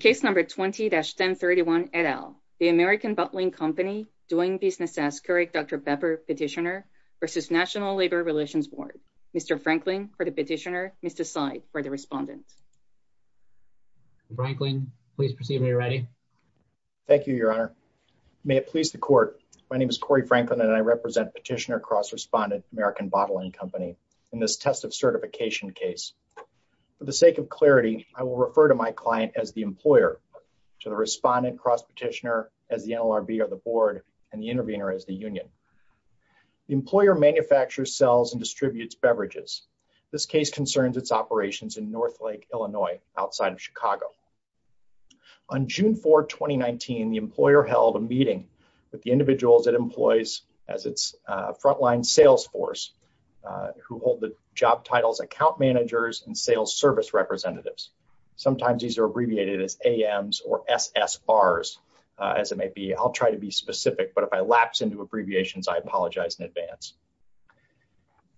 Case No. 20-1031, et al. The American Bottling Company doing business as Couric-Dr. Bepper Petitioner v. National Labor Relations Board. Mr. Franklin for the petitioner, Mr. Seid for the respondent. Mr. Franklin, please proceed when you're ready. Thank you, Your Honor. May it please the Court, my name is Corey Franklin and I represent Petitioner Cross Respondent American Bottling Company in this test of certification case. For the sake of clarity, I will refer to my client as the employer, to the respondent cross petitioner as the NLRB or the board, and the intervener as the union. The employer manufactures, sells, and distributes beverages. This case concerns its operations in North Lake, Illinois, outside of Chicago. On June 4, 2019, the employer held a meeting with the individuals it employs as its frontline sales force, who hold the job titles account managers and sales service representatives. Sometimes these are abbreviated as AMs or SSRs, as it may be. I'll try to be specific, but if I lapse into abbreviations, I apologize in advance.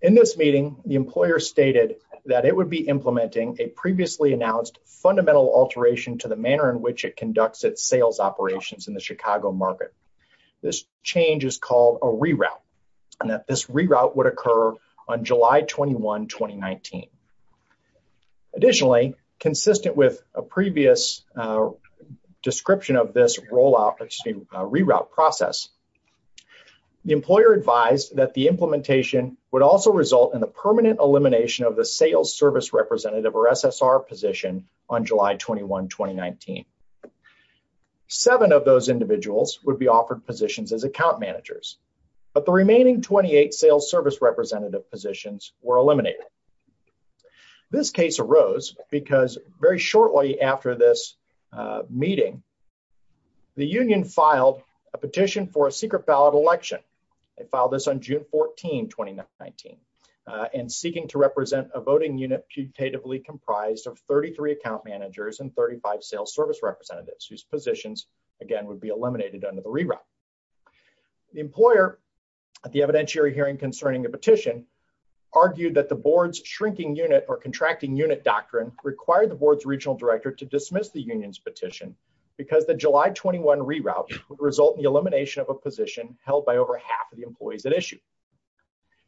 In this meeting, the employer stated that it would be implementing a previously announced fundamental alteration to the manner in which it conducts its sales operations in the Chicago market. This change is called a reroute, and that this reroute would occur on July 21, 2019. Additionally, consistent with a previous description of this reroute process, the employer advised that the implementation would also result in the permanent elimination of the sales service representative or SSR position on July 21, 2019. Seven of those individuals would be offered positions as account managers, but the remaining 28 sales service representative positions were eliminated. This case arose because very shortly after this meeting, the union filed a petition for a secret ballot election. They filed this on June 14, 2019, and seeking to represent a voting unit putatively comprised of 33 account managers and 35 sales service representatives whose positions, again, would be eliminated under the reroute. The employer at the evidentiary hearing concerning the petition argued that the board's shrinking unit or contracting unit doctrine required the board's regional director to dismiss the union's petition because the July 21 reroute would result in the elimination of a position held by over half of the employees at issue.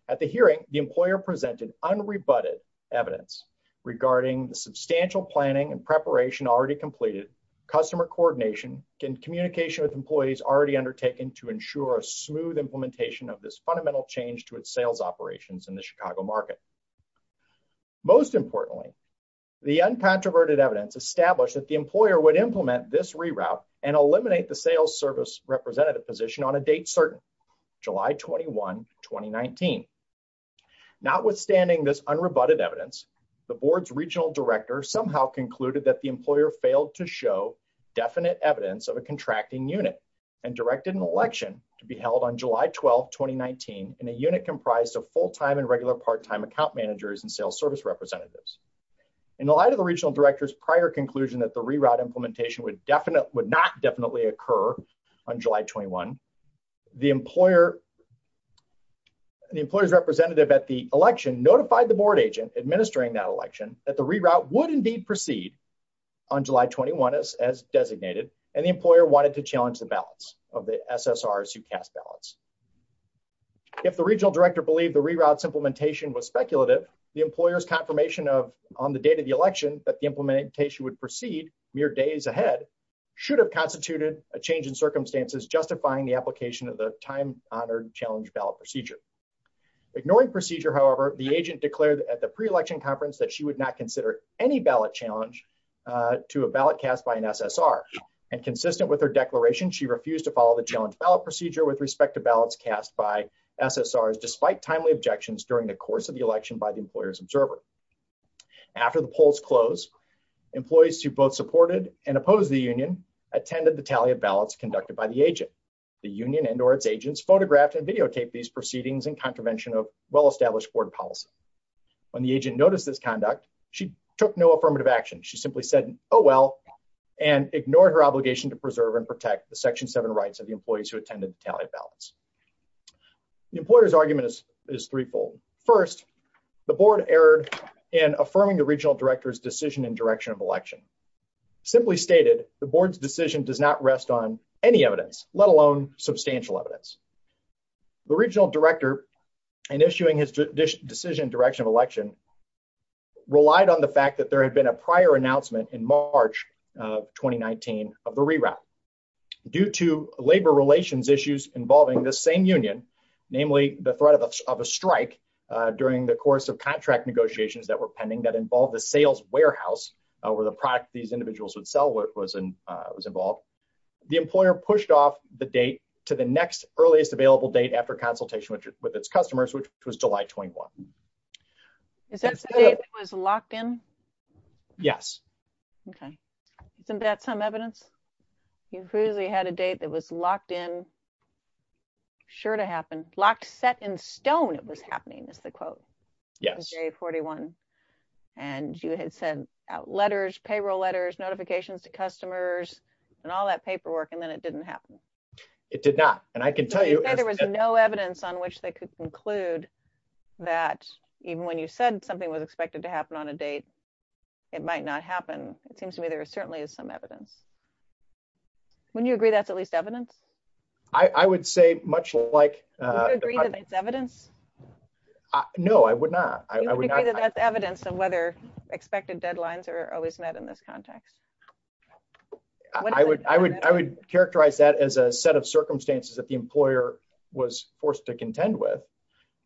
At the hearing, the employer presented unrebutted evidence regarding the substantial planning and preparation already completed, customer coordination, and communication with employees already undertaken to ensure a smooth implementation of this fundamental change to its sales operations in the Chicago market. Most importantly, the uncontroverted evidence established that the employer would implement this reroute and eliminate the sales service representative position on a date certain, July 21, 2019. Notwithstanding this unrebutted evidence, the board's regional director somehow concluded that the employer failed to show definite evidence of a contracting unit and directed an election to be held on July 12, 2019, in a unit comprised of full-time and regular part-time account managers and sales service representatives. In the light of the regional director's prior conclusion that the reroute implementation would not definitely occur on July 21, the employer's representative at the election notified the board agent administering that election that the reroute would indeed proceed on July 21 as designated, and the employer wanted to challenge the balance of the SSRs who cast ballots. If the regional director believed the reroute's implementation was speculative, the employer's confirmation of on the date of the election that the implementation would proceed mere days ahead should have constituted a change in circumstances, justifying the application of the time honored challenge ballot procedure. Ignoring procedure, however, the agent declared at the pre-election conference that she would not consider any ballot challenge to a ballot cast by an SSR, and consistent with her declaration, she refused to follow the challenge ballot procedure with respect to ballots cast by SSRs, despite timely objections during the course of the election by the employer's observer. After the polls closed, employees who both supported and opposed the union attended the tally of ballots conducted by the agent. The union and or its agents photographed and videotaped these proceedings in contravention of well-established policy. When the agent noticed this conduct, she took no affirmative action. She simply said, oh, well, and ignored her obligation to preserve and protect the section seven rights of the employees who attended the tally of ballots. The employer's argument is threefold. First, the board erred in affirming the regional director's decision in direction of election. Simply stated, the board's decision does not rest on any evidence, let alone substantial evidence. The regional director, in issuing his decision in direction of election, relied on the fact that there had been a prior announcement in March of 2019 of the reroute. Due to labor relations issues involving the same union, namely the threat of a strike during the course of contract negotiations that were pending that involved the sales warehouse, where the product these individuals would sell was involved, the employer pushed off the date to the next earliest available date after consultation with its customers, which was July 21. Is that the date it was locked in? Yes. Okay. Isn't that some evidence? You clearly had a date that was locked in, sure to happen. Locked set in stone it was happening, is the quote. Yes. It was day 41, and you had sent out letters, payroll letters, notifications to customers, and all that paperwork, and then it didn't happen. It did not. And I can tell you- You said there was no evidence on which they could conclude that even when you said something was expected to happen on a date, it might not happen. It seems to me there certainly is some evidence. Wouldn't you agree that's at least evidence? I would say much like- Would you agree that it's evidence? No, I would not. Would you agree that that's evidence of whether expected deadlines are always met in this context? I would characterize that as a set of circumstances that the employer was forced to contend with.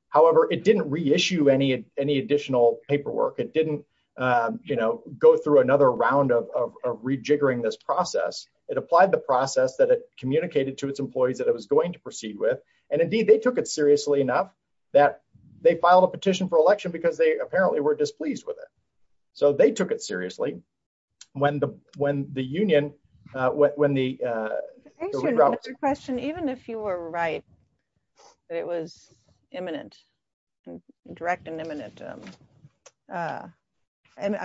However, it didn't reissue any additional paperwork. It didn't go through another round of rejiggering this process. It applied the process that it communicated to its employees that it was going to proceed with. And indeed, they took it seriously enough that they filed a petition for election because they apparently were displeased with it. So they took it seriously when the union- I have a question. Even if you were right that it was imminent, direct and imminent, I'm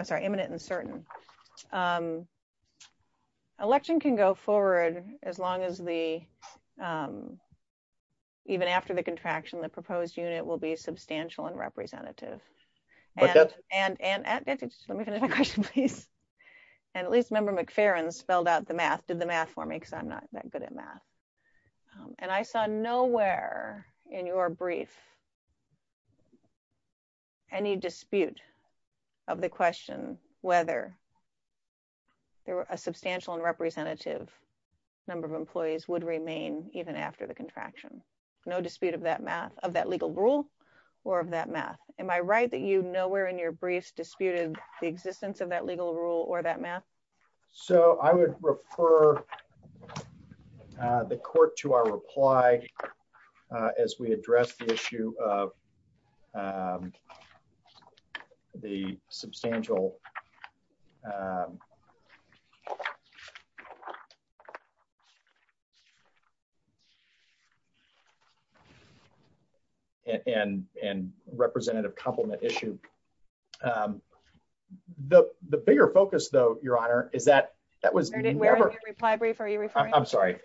sorry, imminent and certain, election can go forward as long as the- even after the contraction, the proposed unit will be substantial and representative. Okay. And let me finish my question, please. And at least Member McFerrin spelled out the math, did the math for me because I'm not that good at math. And I saw nowhere in your brief any dispute of the question whether there were a substantial and representative number of employees would remain even after the contraction. No dispute of that math, of that legal rule, or of that math. Am I right that you nowhere in your briefs disputed the existence of that legal rule or that math? So I would refer the court to our reply as we address the issue of the substantial- and representative complement issue. The bigger focus though, Your Honor, is that that was- Where in your reply brief are you referring to? I'm sorry.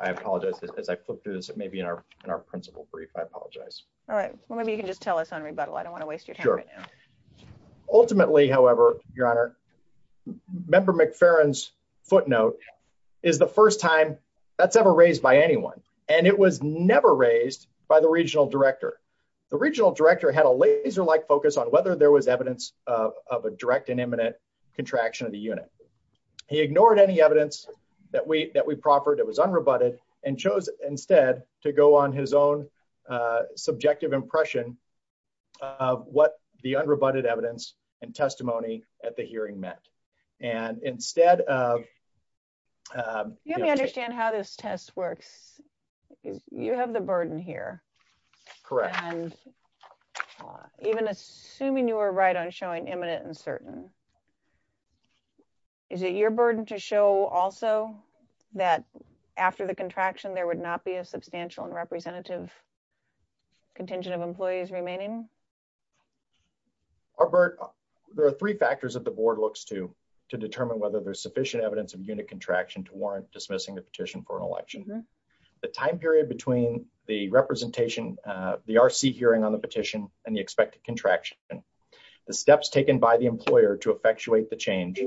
I apologize. As I flip through this, it may be in our principal brief. I apologize. All right. Well, maybe you can just tell us on rebuttal. I don't want to waste your time right now. Ultimately, however, Your Honor, Member McFerrin's footnote is the first time that's ever raised by anyone. And it was never raised by the regional director. The regional director had a laser-like focus on whether there was evidence of a direct and imminent contraction of the unit. He ignored any evidence that we proffered. It was unrebutted and chose instead to go on his own subjective impression of what the unrebutted evidence and testimony at the hearing meant. And instead of- Let me understand how this test works. You have the burden here. Correct. And even assuming you were right on showing imminent and certain, is it your burden to show also that after the contraction, there would not be a substantial and representative contingent of employees remaining? Our burden- There are three factors that the board looks to determine whether there's sufficient evidence of unit contraction to warrant dismissing the petition for an election. The time period between the representation, the RC hearing on the petition and the expected contraction, the steps taken by the employer to effectuate the change,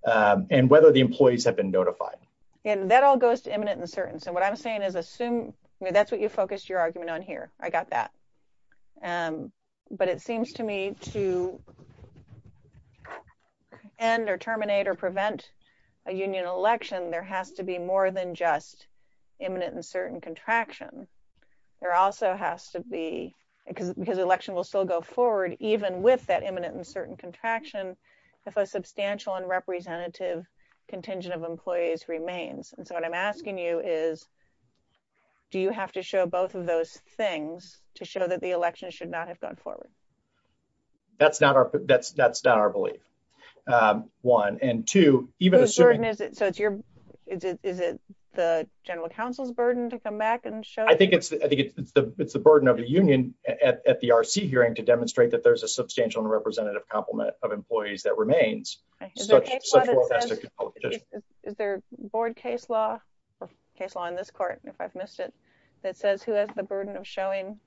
and whether the employees have been notified. And that all goes to imminent and certain. So what I'm saying is assume- That's what you focused your argument on here. I got that. But it seems to me to end or terminate or prevent a union election, there has to be more than just a contingent of employees. There also has to be, because the election will still go forward, even with that imminent and certain contraction, if a substantial and representative contingent of employees remains. And so what I'm asking you is, do you have to show both of those things to show that the election should not have gone forward? That's not our belief. One. And two- Whose burden is it? So is it the general counsel's burden to come back and show- I think it's the burden of the union at the RC hearing to demonstrate that there's a substantial and representative complement of employees that remains. Is there board case law, case law in this court, if I've missed it, that says who has the burden of showing,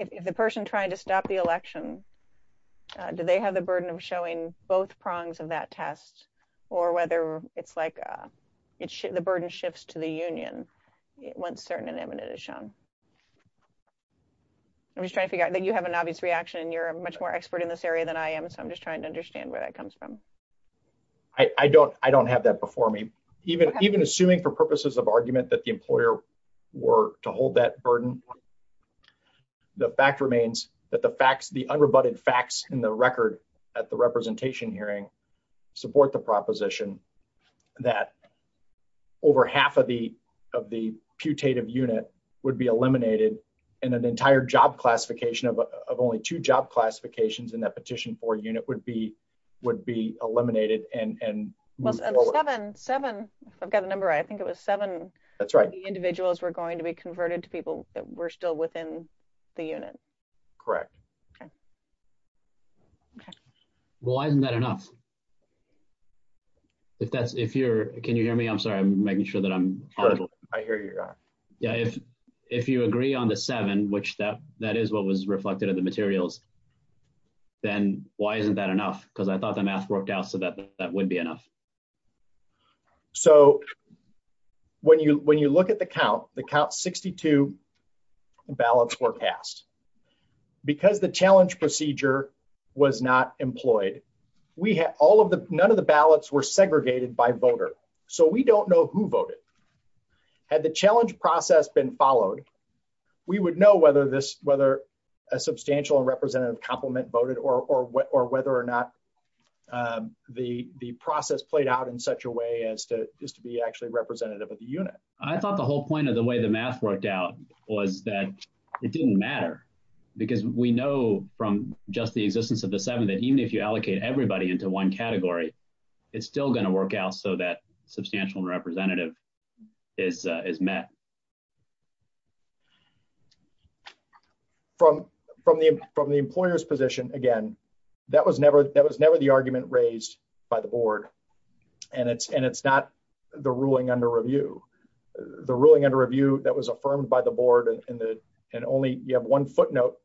if the person trying to stop the election, do they have the burden of showing both prongs of that test, or whether it's like the burden shifts to the union once certain and imminent is shown? I'm just trying to figure out that you have an obvious reaction and you're a much more expert in this area than I am. So I'm just trying to understand where that comes from. I don't have that before me. Even assuming for purposes of argument that the employer were to hold that burden, the fact remains that the facts, the unrebutted facts in the record at the representation hearing support the proposition that over half of the of the putative unit would be eliminated and an entire job classification of only two job classifications in that petition for unit would be would be eliminated and- And seven, I've got the number right, I think it was seven individuals were going to be converted to people that were still within the unit. Correct. Okay. Okay. Well, why isn't that enough? If that's, if you're, can you hear me? I'm sorry, I'm making sure that I'm audible. I hear you. Yeah. If, if you agree on the seven, which that, that is what was reflected in the materials, then why isn't that enough? Because I thought the math worked out so that that would be enough. So when you, when you look at the count, the count 62 ballots were passed because the challenge procedure was not employed. We had all of the, none of the ballots were segregated by voter. So we don't know who voted, had the challenge process been followed. We would know whether this, whether a substantial and representative compliment voted or, or, or whether or not the, the process played out in such a way as to just to be actually representative of the unit. I thought the whole point of the way the math worked out was that it didn't matter because we know from just the existence of the seven that even if you allocate everybody into one category, it's still going to work out so that substantial and representative is, is met. From, from the, from the employer's position. Again, that was never, that was never the argument raised by the board and it's, and it's not the ruling under review, the ruling under review that was affirmed by the board and the, and only you have one footnote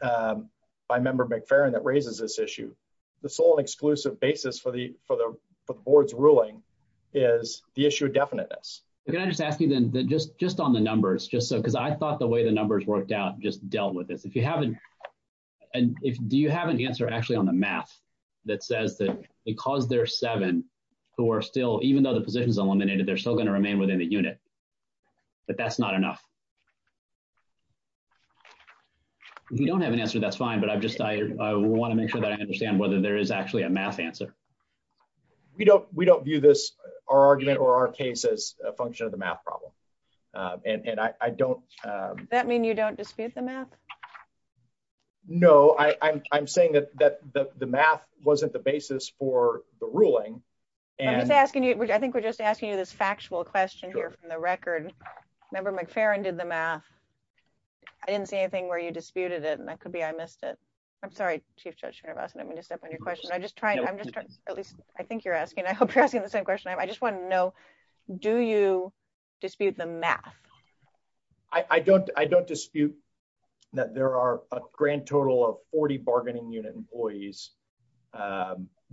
by member McFerrin that raises this issue. The sole and exclusive basis for the, for the, for the board's because I thought the way the numbers worked out just dealt with this. If you haven't, and if, do you have an answer actually on the math that says that because there are seven who are still, even though the position is eliminated, they're still going to remain within the unit, but that's not enough. If you don't have an answer, that's fine, but I've just, I want to make sure that I understand whether there is actually a math answer. We don't, we don't view this, our argument or our case as a function of the math problem. And I don't, that mean you don't dispute the math. No, I I'm, I'm saying that, that the, the math wasn't the basis for the ruling. And just asking you, I think we're just asking you this factual question here from the record. Member McFerrin did the math. I didn't see anything where you disputed it. And that could be, I missed it. I'm sorry, chief judge, I'm going to step on your question. I'm just trying, at least I think you're asking, I hope you're asking the same question. I just want to know, do you dispute the math? I don't, I don't dispute that there are a grand total of 40 bargaining unit employees.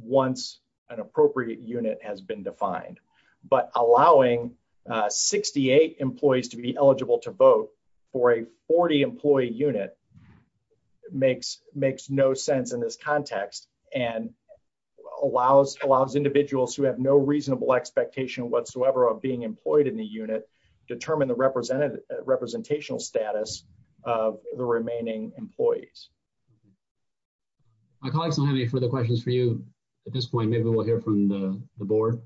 Once an appropriate unit has been defined, but allowing 68 employees to be eligible to vote for a 40 employee unit makes, makes no sense in this context and allows, allows individuals who have no reasonable expectation whatsoever of being employed in the unit, determine the representative representational status of the remaining employees. My colleagues don't have any further questions for you at this point. Maybe we'll hear from the board.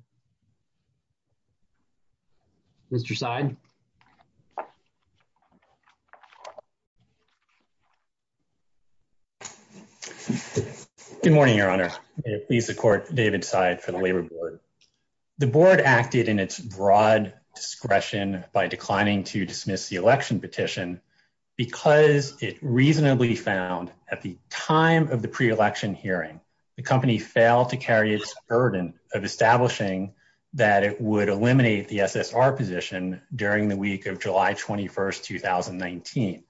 Mr. Seid. Good morning, your honor. Please support David Seid for the labor board. The board acted in its broad discretion by declining to dismiss the election petition because it reasonably found at the time of the pre-election hearing, the company failed to carry its burden of establishing that it would eliminate the SSR position during the week of July 21st, 2019.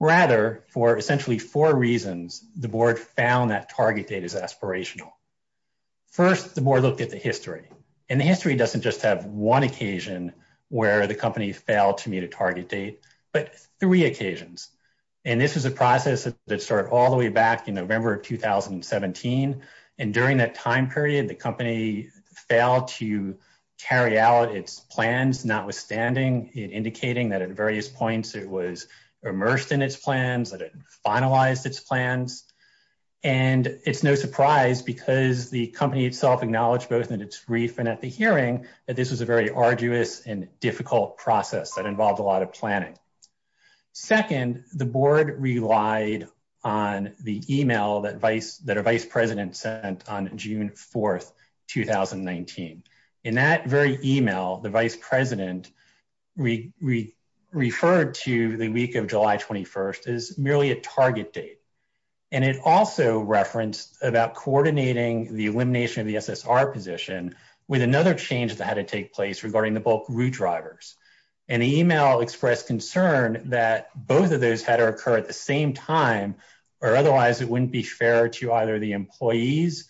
Rather, for essentially four reasons, the board found that target date is aspirational. First, the board looked at the history and the history doesn't just have one occasion where the company failed to meet a target date, but three occasions. And this was a process that started all the way back in November of 2017. And during that time period, the company failed to carry out its plans, notwithstanding it indicating that at various points it was immersed in its plans, that it finalized its plans. And it's no surprise because the company itself acknowledged both in its brief and at the hearing that this was a very arduous and difficult process that involved a lot of planning. Second, the board relied on the email that a vice president sent on June 4th, 2019. In that very email, the vice president referred to the week of July 21st as merely a target date. And it also referenced about coordinating the elimination of the SSR position with another change that had to take place regarding the bulk route drivers. And the email expressed concern that both of those had to occur at the same time or otherwise it wouldn't be fair to either the employees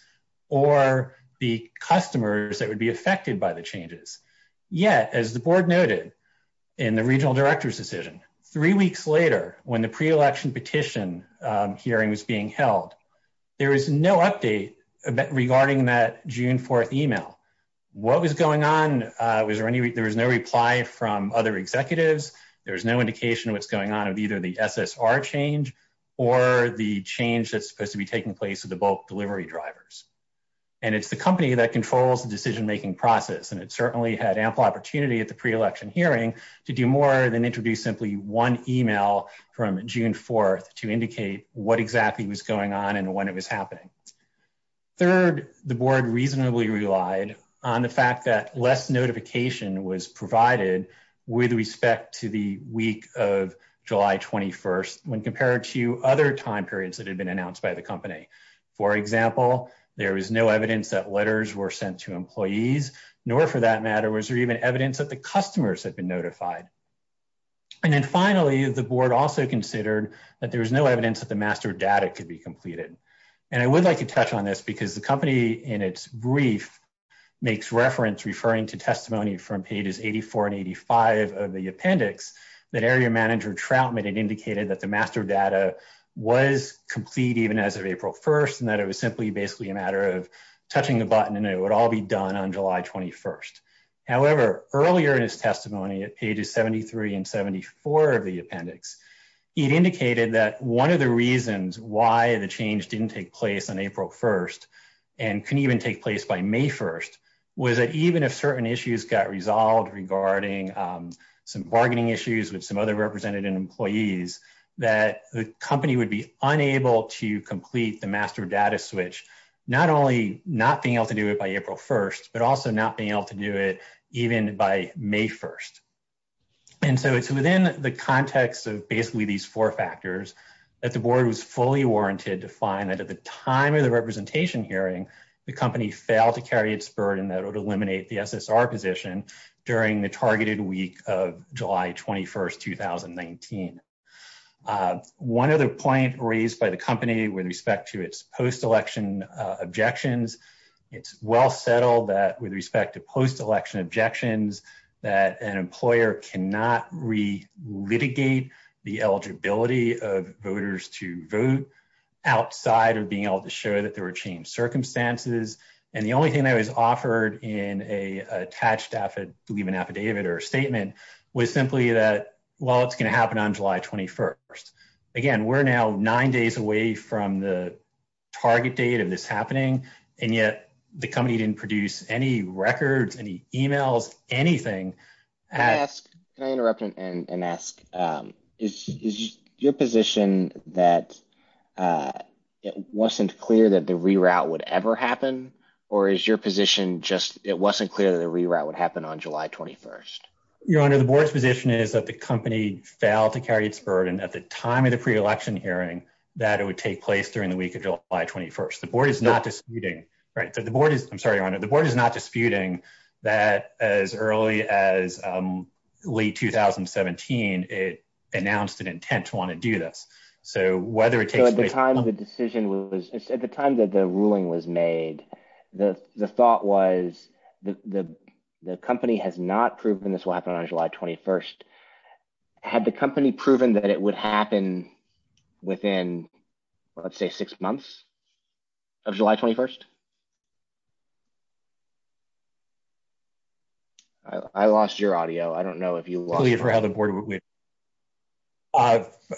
or the customers that would be affected by the changes. Yet, as the board noted in the regional director's decision, three weeks later when the pre-election petition hearing was being held, there was no update regarding that June 4th email. What was going on? There was no reply from other executives. There was no indication of what's going on with either the SSR change or the change that's supposed to be taking place with the bulk delivery drivers. And it's the company that controls the decision-making process, and it certainly had ample opportunity at the pre-election hearing to do more than introduce simply one email from June 4th to indicate what exactly was going on and when it was happening. Third, the board reasonably relied on the fact that less notification was provided with respect to the week of July 21st when compared to other time periods that had been announced by the company. For example, there was no evidence that letters were sent to employees, nor for that matter was there even evidence that the customers had been notified. And then finally, the board also considered that there was no evidence that the master data could be completed. And I would like to touch on this because the company in its brief makes reference referring to testimony from pages 84 and 85 of the appendix that area manager Troutman had indicated that the master data was complete even as of April 1st and that it was simply basically a matter of touching the button and it would all be done on July 21st. However, earlier in his testimony at pages 73 and 74 of the appendix, it indicated that one of the reasons why the change didn't take place on April 1st and couldn't even take place by May 1st was that even if certain issues got resolved regarding some bargaining issues with some other representative employees that the company would be unable to complete the master data switch, not only not being able to do it by April 1st, but also not being able to do it even by May 1st. And so it's within the context of basically these four factors that the board was fully warranted to find that at the time of the representation hearing, the company failed to carry its burden that would eliminate the SSR position during the targeted week of July 21st, 2019. One other point raised by the company with respect to its post-election objections, it's well settled that with respect to post-election objections, that an employer cannot re-litigate the eligibility of voters to vote outside of being able to show that there were changed circumstances. And the only thing that was offered in a attached affidavit or statement was simply that, well, it's going to happen on July 21st. Again, we're now nine days away from the target date of this happening, and yet the company didn't produce any records, any emails, anything. Can I interrupt and ask, is your position that it wasn't clear that the reroute would ever happen, or is your position just it wasn't clear that the reroute would happen on July 21st? Your Honor, the board's position is that the company failed to carry its burden at the time of the pre-election hearing that it would take place during the week of July 21st. The board is not disputing that as early as late 2017, it announced an intent to want to do this. At the time that the ruling was made, the thought was the company has not proven this will happen on July 21st. Had the company proven that it would happen within, let's say, six months of July 21st? I lost your audio. I don't know if you lost it.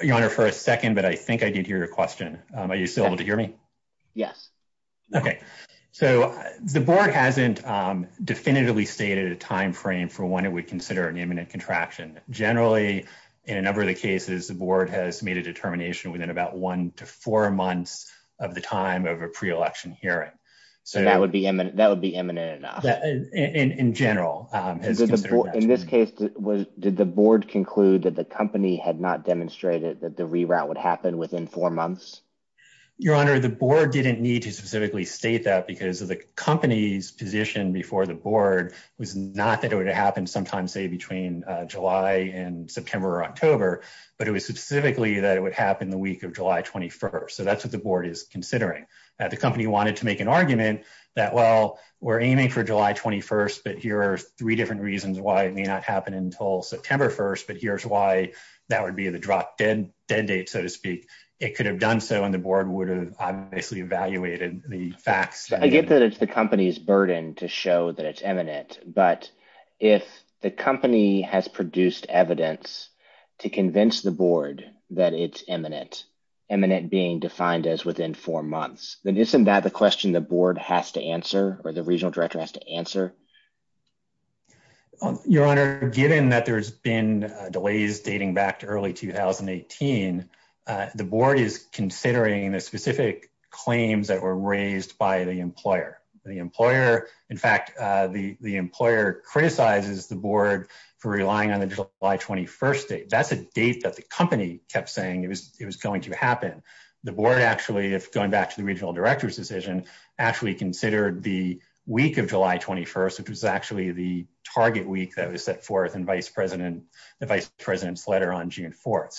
Your Honor, for a second, but I think I did hear your question. Are you still able to hear me? Yes. Okay. So the board hasn't definitively stated a time frame for when it would consider an imminent contraction. Generally, in a number of the cases, the board has made a determination within about four months of the time of a pre-election hearing. So that would be imminent enough? In general. In this case, did the board conclude that the company had not demonstrated that the reroute would happen within four months? Your Honor, the board didn't need to specifically state that because the company's position before the board was not that it would happen sometime, say, between July and September or October, but it was specifically that it would happen the week of July 21st. So that's what the board is considering. The company wanted to make an argument that, well, we're aiming for July 21st, but here are three different reasons why it may not happen until September 1st, but here's why that would be the drop dead date, so to speak. It could have done so and the board would have obviously evaluated the facts. I get that it's the company's burden to show that it's imminent, but if the company has the board that it's imminent, imminent being defined as within four months, then isn't that the question the board has to answer or the regional director has to answer? Your Honor, given that there's been delays dating back to early 2018, the board is considering the specific claims that were raised by the employer. The employer, in fact, the employer criticizes the board for relying on the July 21st date. That's a date that the company kept saying it was going to happen. The board actually, if going back to the regional director's decision, actually considered the week of July 21st, which was actually the target week that was set forth in the vice president's letter on June 4th.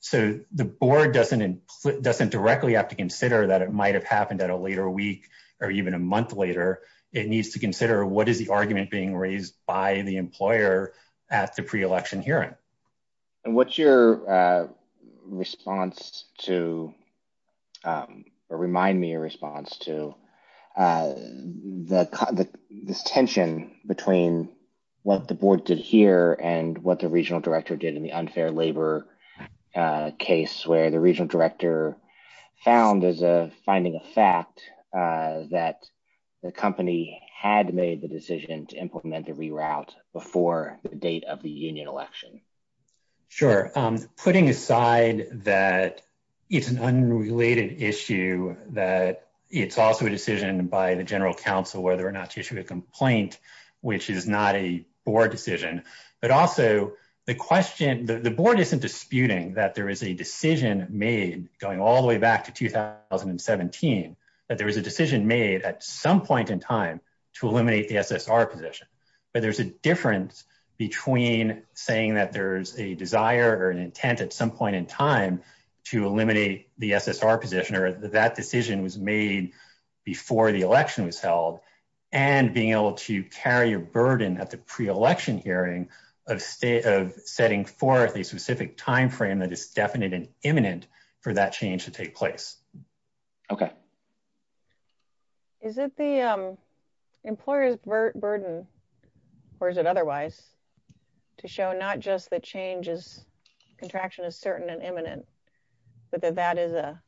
So the board doesn't directly have to consider that it might have happened at a later week or even a month later. It needs to consider what is the argument being raised by the employer at the pre-election hearing. And what's your response to, or remind me a response to, this tension between what the board did here and what the regional director did in the unfair labor case where the regional director found as a finding a fact that the company had made the date of the union election? Sure. Putting aside that it's an unrelated issue, that it's also a decision by the general counsel whether or not to issue a complaint, which is not a board decision. But also the question, the board isn't disputing that there is a decision made going all the way back to 2017, that there was a decision made at some point in time to eliminate the SSR position. But there's a difference between saying that there's a desire or an intent at some point in time to eliminate the SSR position, or that decision was made before the election was held, and being able to carry a burden at the pre-election hearing of setting forth a specific time frame that is definite and imminent for that change to take place. Okay. Is it the employer's burden, or is it otherwise, to show not just the changes, contraction is certain and imminent, but that that is a,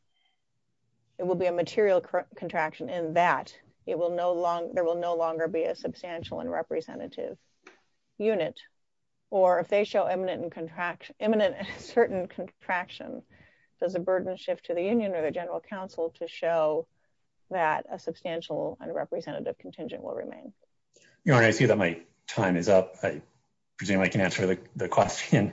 it will be a material contraction, and that it will no longer, there will no longer be a substantial and representative unit, or if they show imminent and certain contraction, does the burden shift to the that a substantial and representative contingent will remain? Your Honor, I see that my time is up. I presume I can answer the question.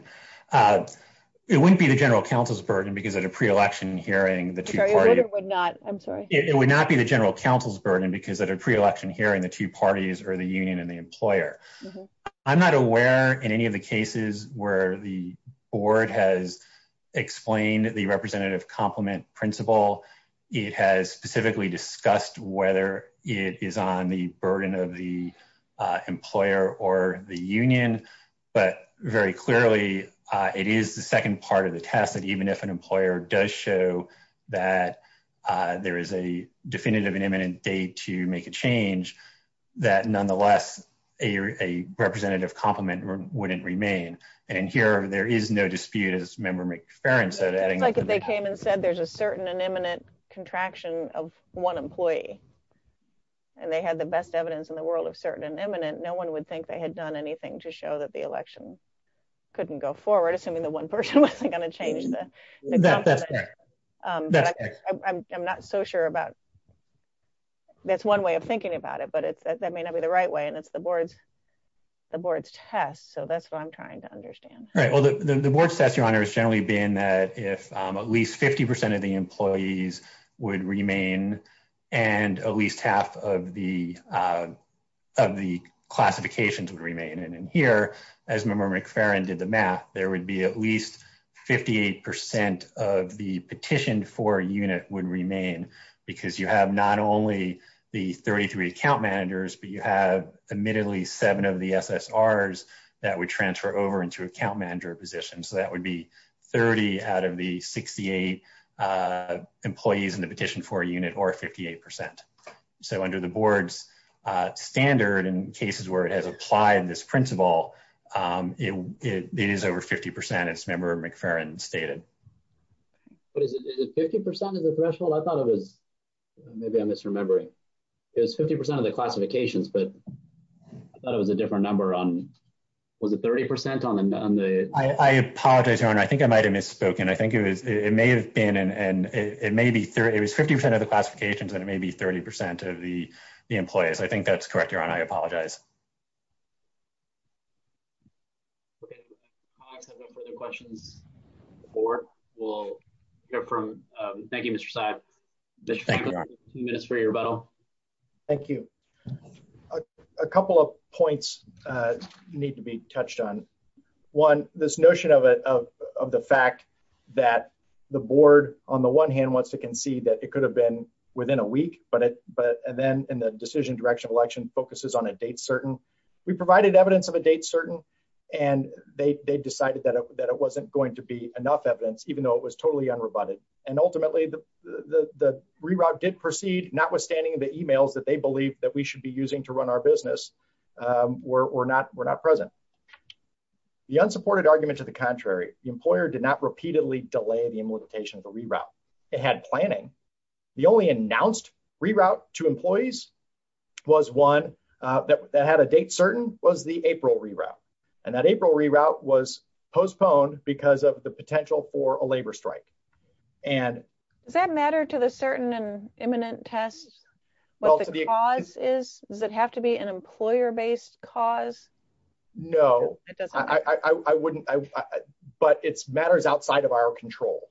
It wouldn't be the general counsel's burden, because at a pre-election hearing, the two parties would not, I'm sorry, it would not be the general counsel's burden, because at a pre-election hearing, the two parties are the union and the employer. I'm not aware in any of the cases where the board has explained the representative complement principle. It has specifically discussed whether it is on the burden of the employer or the union, but very clearly, it is the second part of the test that even if an employer does show that there is a definitive and imminent date to make a change, that nonetheless, a representative complement wouldn't remain. And here, there is no dispute, as Member McFerrin said. It's like if they came and said there's a certain and imminent contraction of one employee, and they had the best evidence in the world of certain and imminent, no one would think they had done anything to show that the election couldn't go forward, assuming the one person wasn't going to change that. I'm not so sure about, that's one way of thinking about it, but that may not be the right way, and it's the board's test, so that's what I'm trying to say, is that if at least 50% of the employees would remain, and at least half of the classifications would remain, and in here, as Member McFerrin did the math, there would be at least 58% of the petitioned for unit would remain, because you have not only the 33 account managers, but you have admittedly seven of the SSRs that would transfer over into account manager positions, so that would be 30 out of the 68 employees in the petition for a unit, or 58%. So under the board's standard, in cases where it has applied this principle, it is over 50%, as Member McFerrin stated. But is it 50% of the threshold? I thought it was, maybe I'm misremembering, it was 50% of classifications, but I thought it was a different number on, was it 30% on the? I apologize, Your Honor, I think I might have misspoken. I think it was, it may have been, and it may be, it was 50% of the classifications, and it may be 30% of the employees. I think that's correct, Your Honor, I apologize. Okay, if the clerk has no further questions, the board will hear from, thank you, Mr. Seib. Thank you, Your Honor. Mr. McFerrin, minutes for your rebuttal. Thank you. A couple of points need to be touched on. One, this notion of the fact that the board, on the one hand, wants to concede that it could have been within a week, but, and then in the decision direction of election, focuses on a date certain. We provided evidence of a date certain, and they decided that it wasn't going to be enough evidence, even though it was totally unrebutted. And ultimately, the reroute did proceed, notwithstanding the emails that they believe that we should be using to run our business were not present. The unsupported argument to the contrary, the employer did not repeatedly delay the implementation of the reroute. It had planning. The only announced reroute to employees was one that had a date certain, was the April reroute. And that April reroute was postponed because of the potential for a strike. And does that matter to the certain and imminent tests? What the cause is? Does it have to be an employer based cause? No, I wouldn't. But it's matters outside of our control.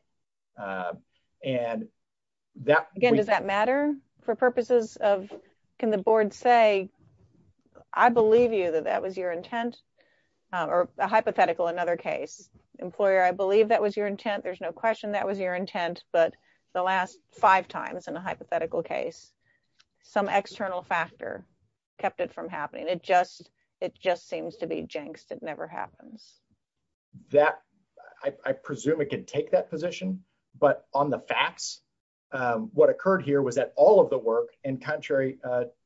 And that again, does that matter for purposes of can the board say, I believe you that that was your intent. But the last five times in a hypothetical case, some external factor kept it from happening, it just, it just seems to be jinxed, it never happens. That I presume it can take that position. But on the facts, what occurred here was that all of the work and contrary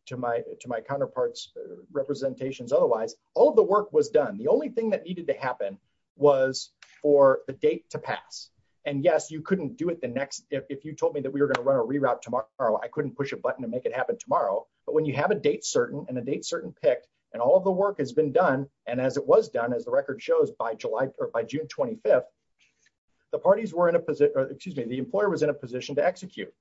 to my to my counterparts, representations, otherwise, all the work was done, the only thing that needed to happen was for the date to pass. And yes, you couldn't do it the next if you told me that we were going to run a reroute tomorrow, I couldn't push a button and make it happen tomorrow. But when you have a date certain and a date certain pick, and all the work has been done, and as it was done, as the record shows, by July or by June 25, the parties were in a position, excuse me, the employer was in a position to execute.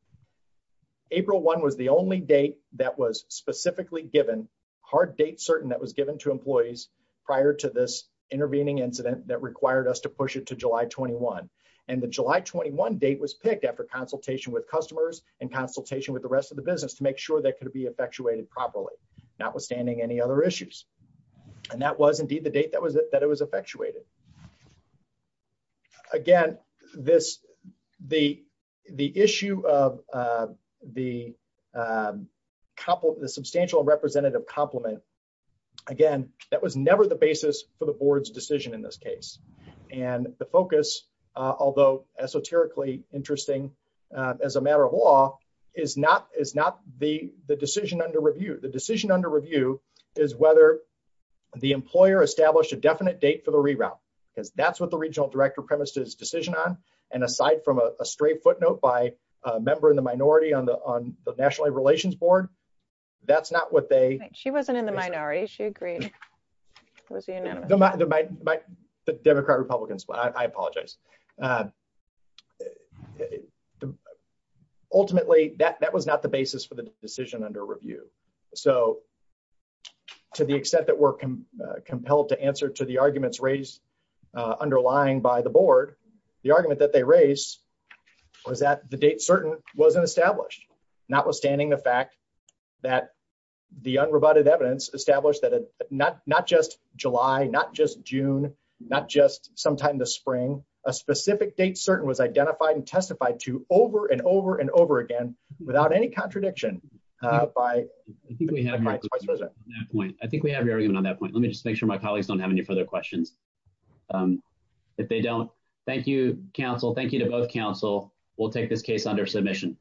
April one was the only date that was specifically given hard date certain that was given to employees prior to this intervening incident that required us to push it to July 21. And the July 21 date was picked after consultation with customers and consultation with the rest of the business to make sure that could be effectuated properly, notwithstanding any other issues. And that was indeed the date that was that it was effectuated. Again, this, the, the issue of the couple, the substantial representative compliment. Again, that was never the basis for the board's decision in this case. And the focus, although esoterically interesting, as a matter of law, is not is not the the decision under review, the decision under review, is whether the employer established a definite date for the reroute, because that's what the regional director premises decision on. And aside from a straight footnote by a member in the minority on the on the National Relations Board. That's not what they she wasn't in the minority. She agreed. The Democrat Republicans, but I apologize. Uh, ultimately that that was not the basis for the decision under review. So to the extent that we're compelled to answer to the arguments raised, uh, underlying by the board, the argument that they raised was that the date certain wasn't established, notwithstanding the fact that the unroboted evidence established that not, not just July, not just June, not just sometime this spring, a specific date certain was identified and testified to over and over and over again, without any contradiction by I think we have my point, I think we have your argument on that point. Let me just make sure my colleagues don't have any further questions. If they don't, thank you, counsel. Thank you to both counsel. We'll take this case under submission.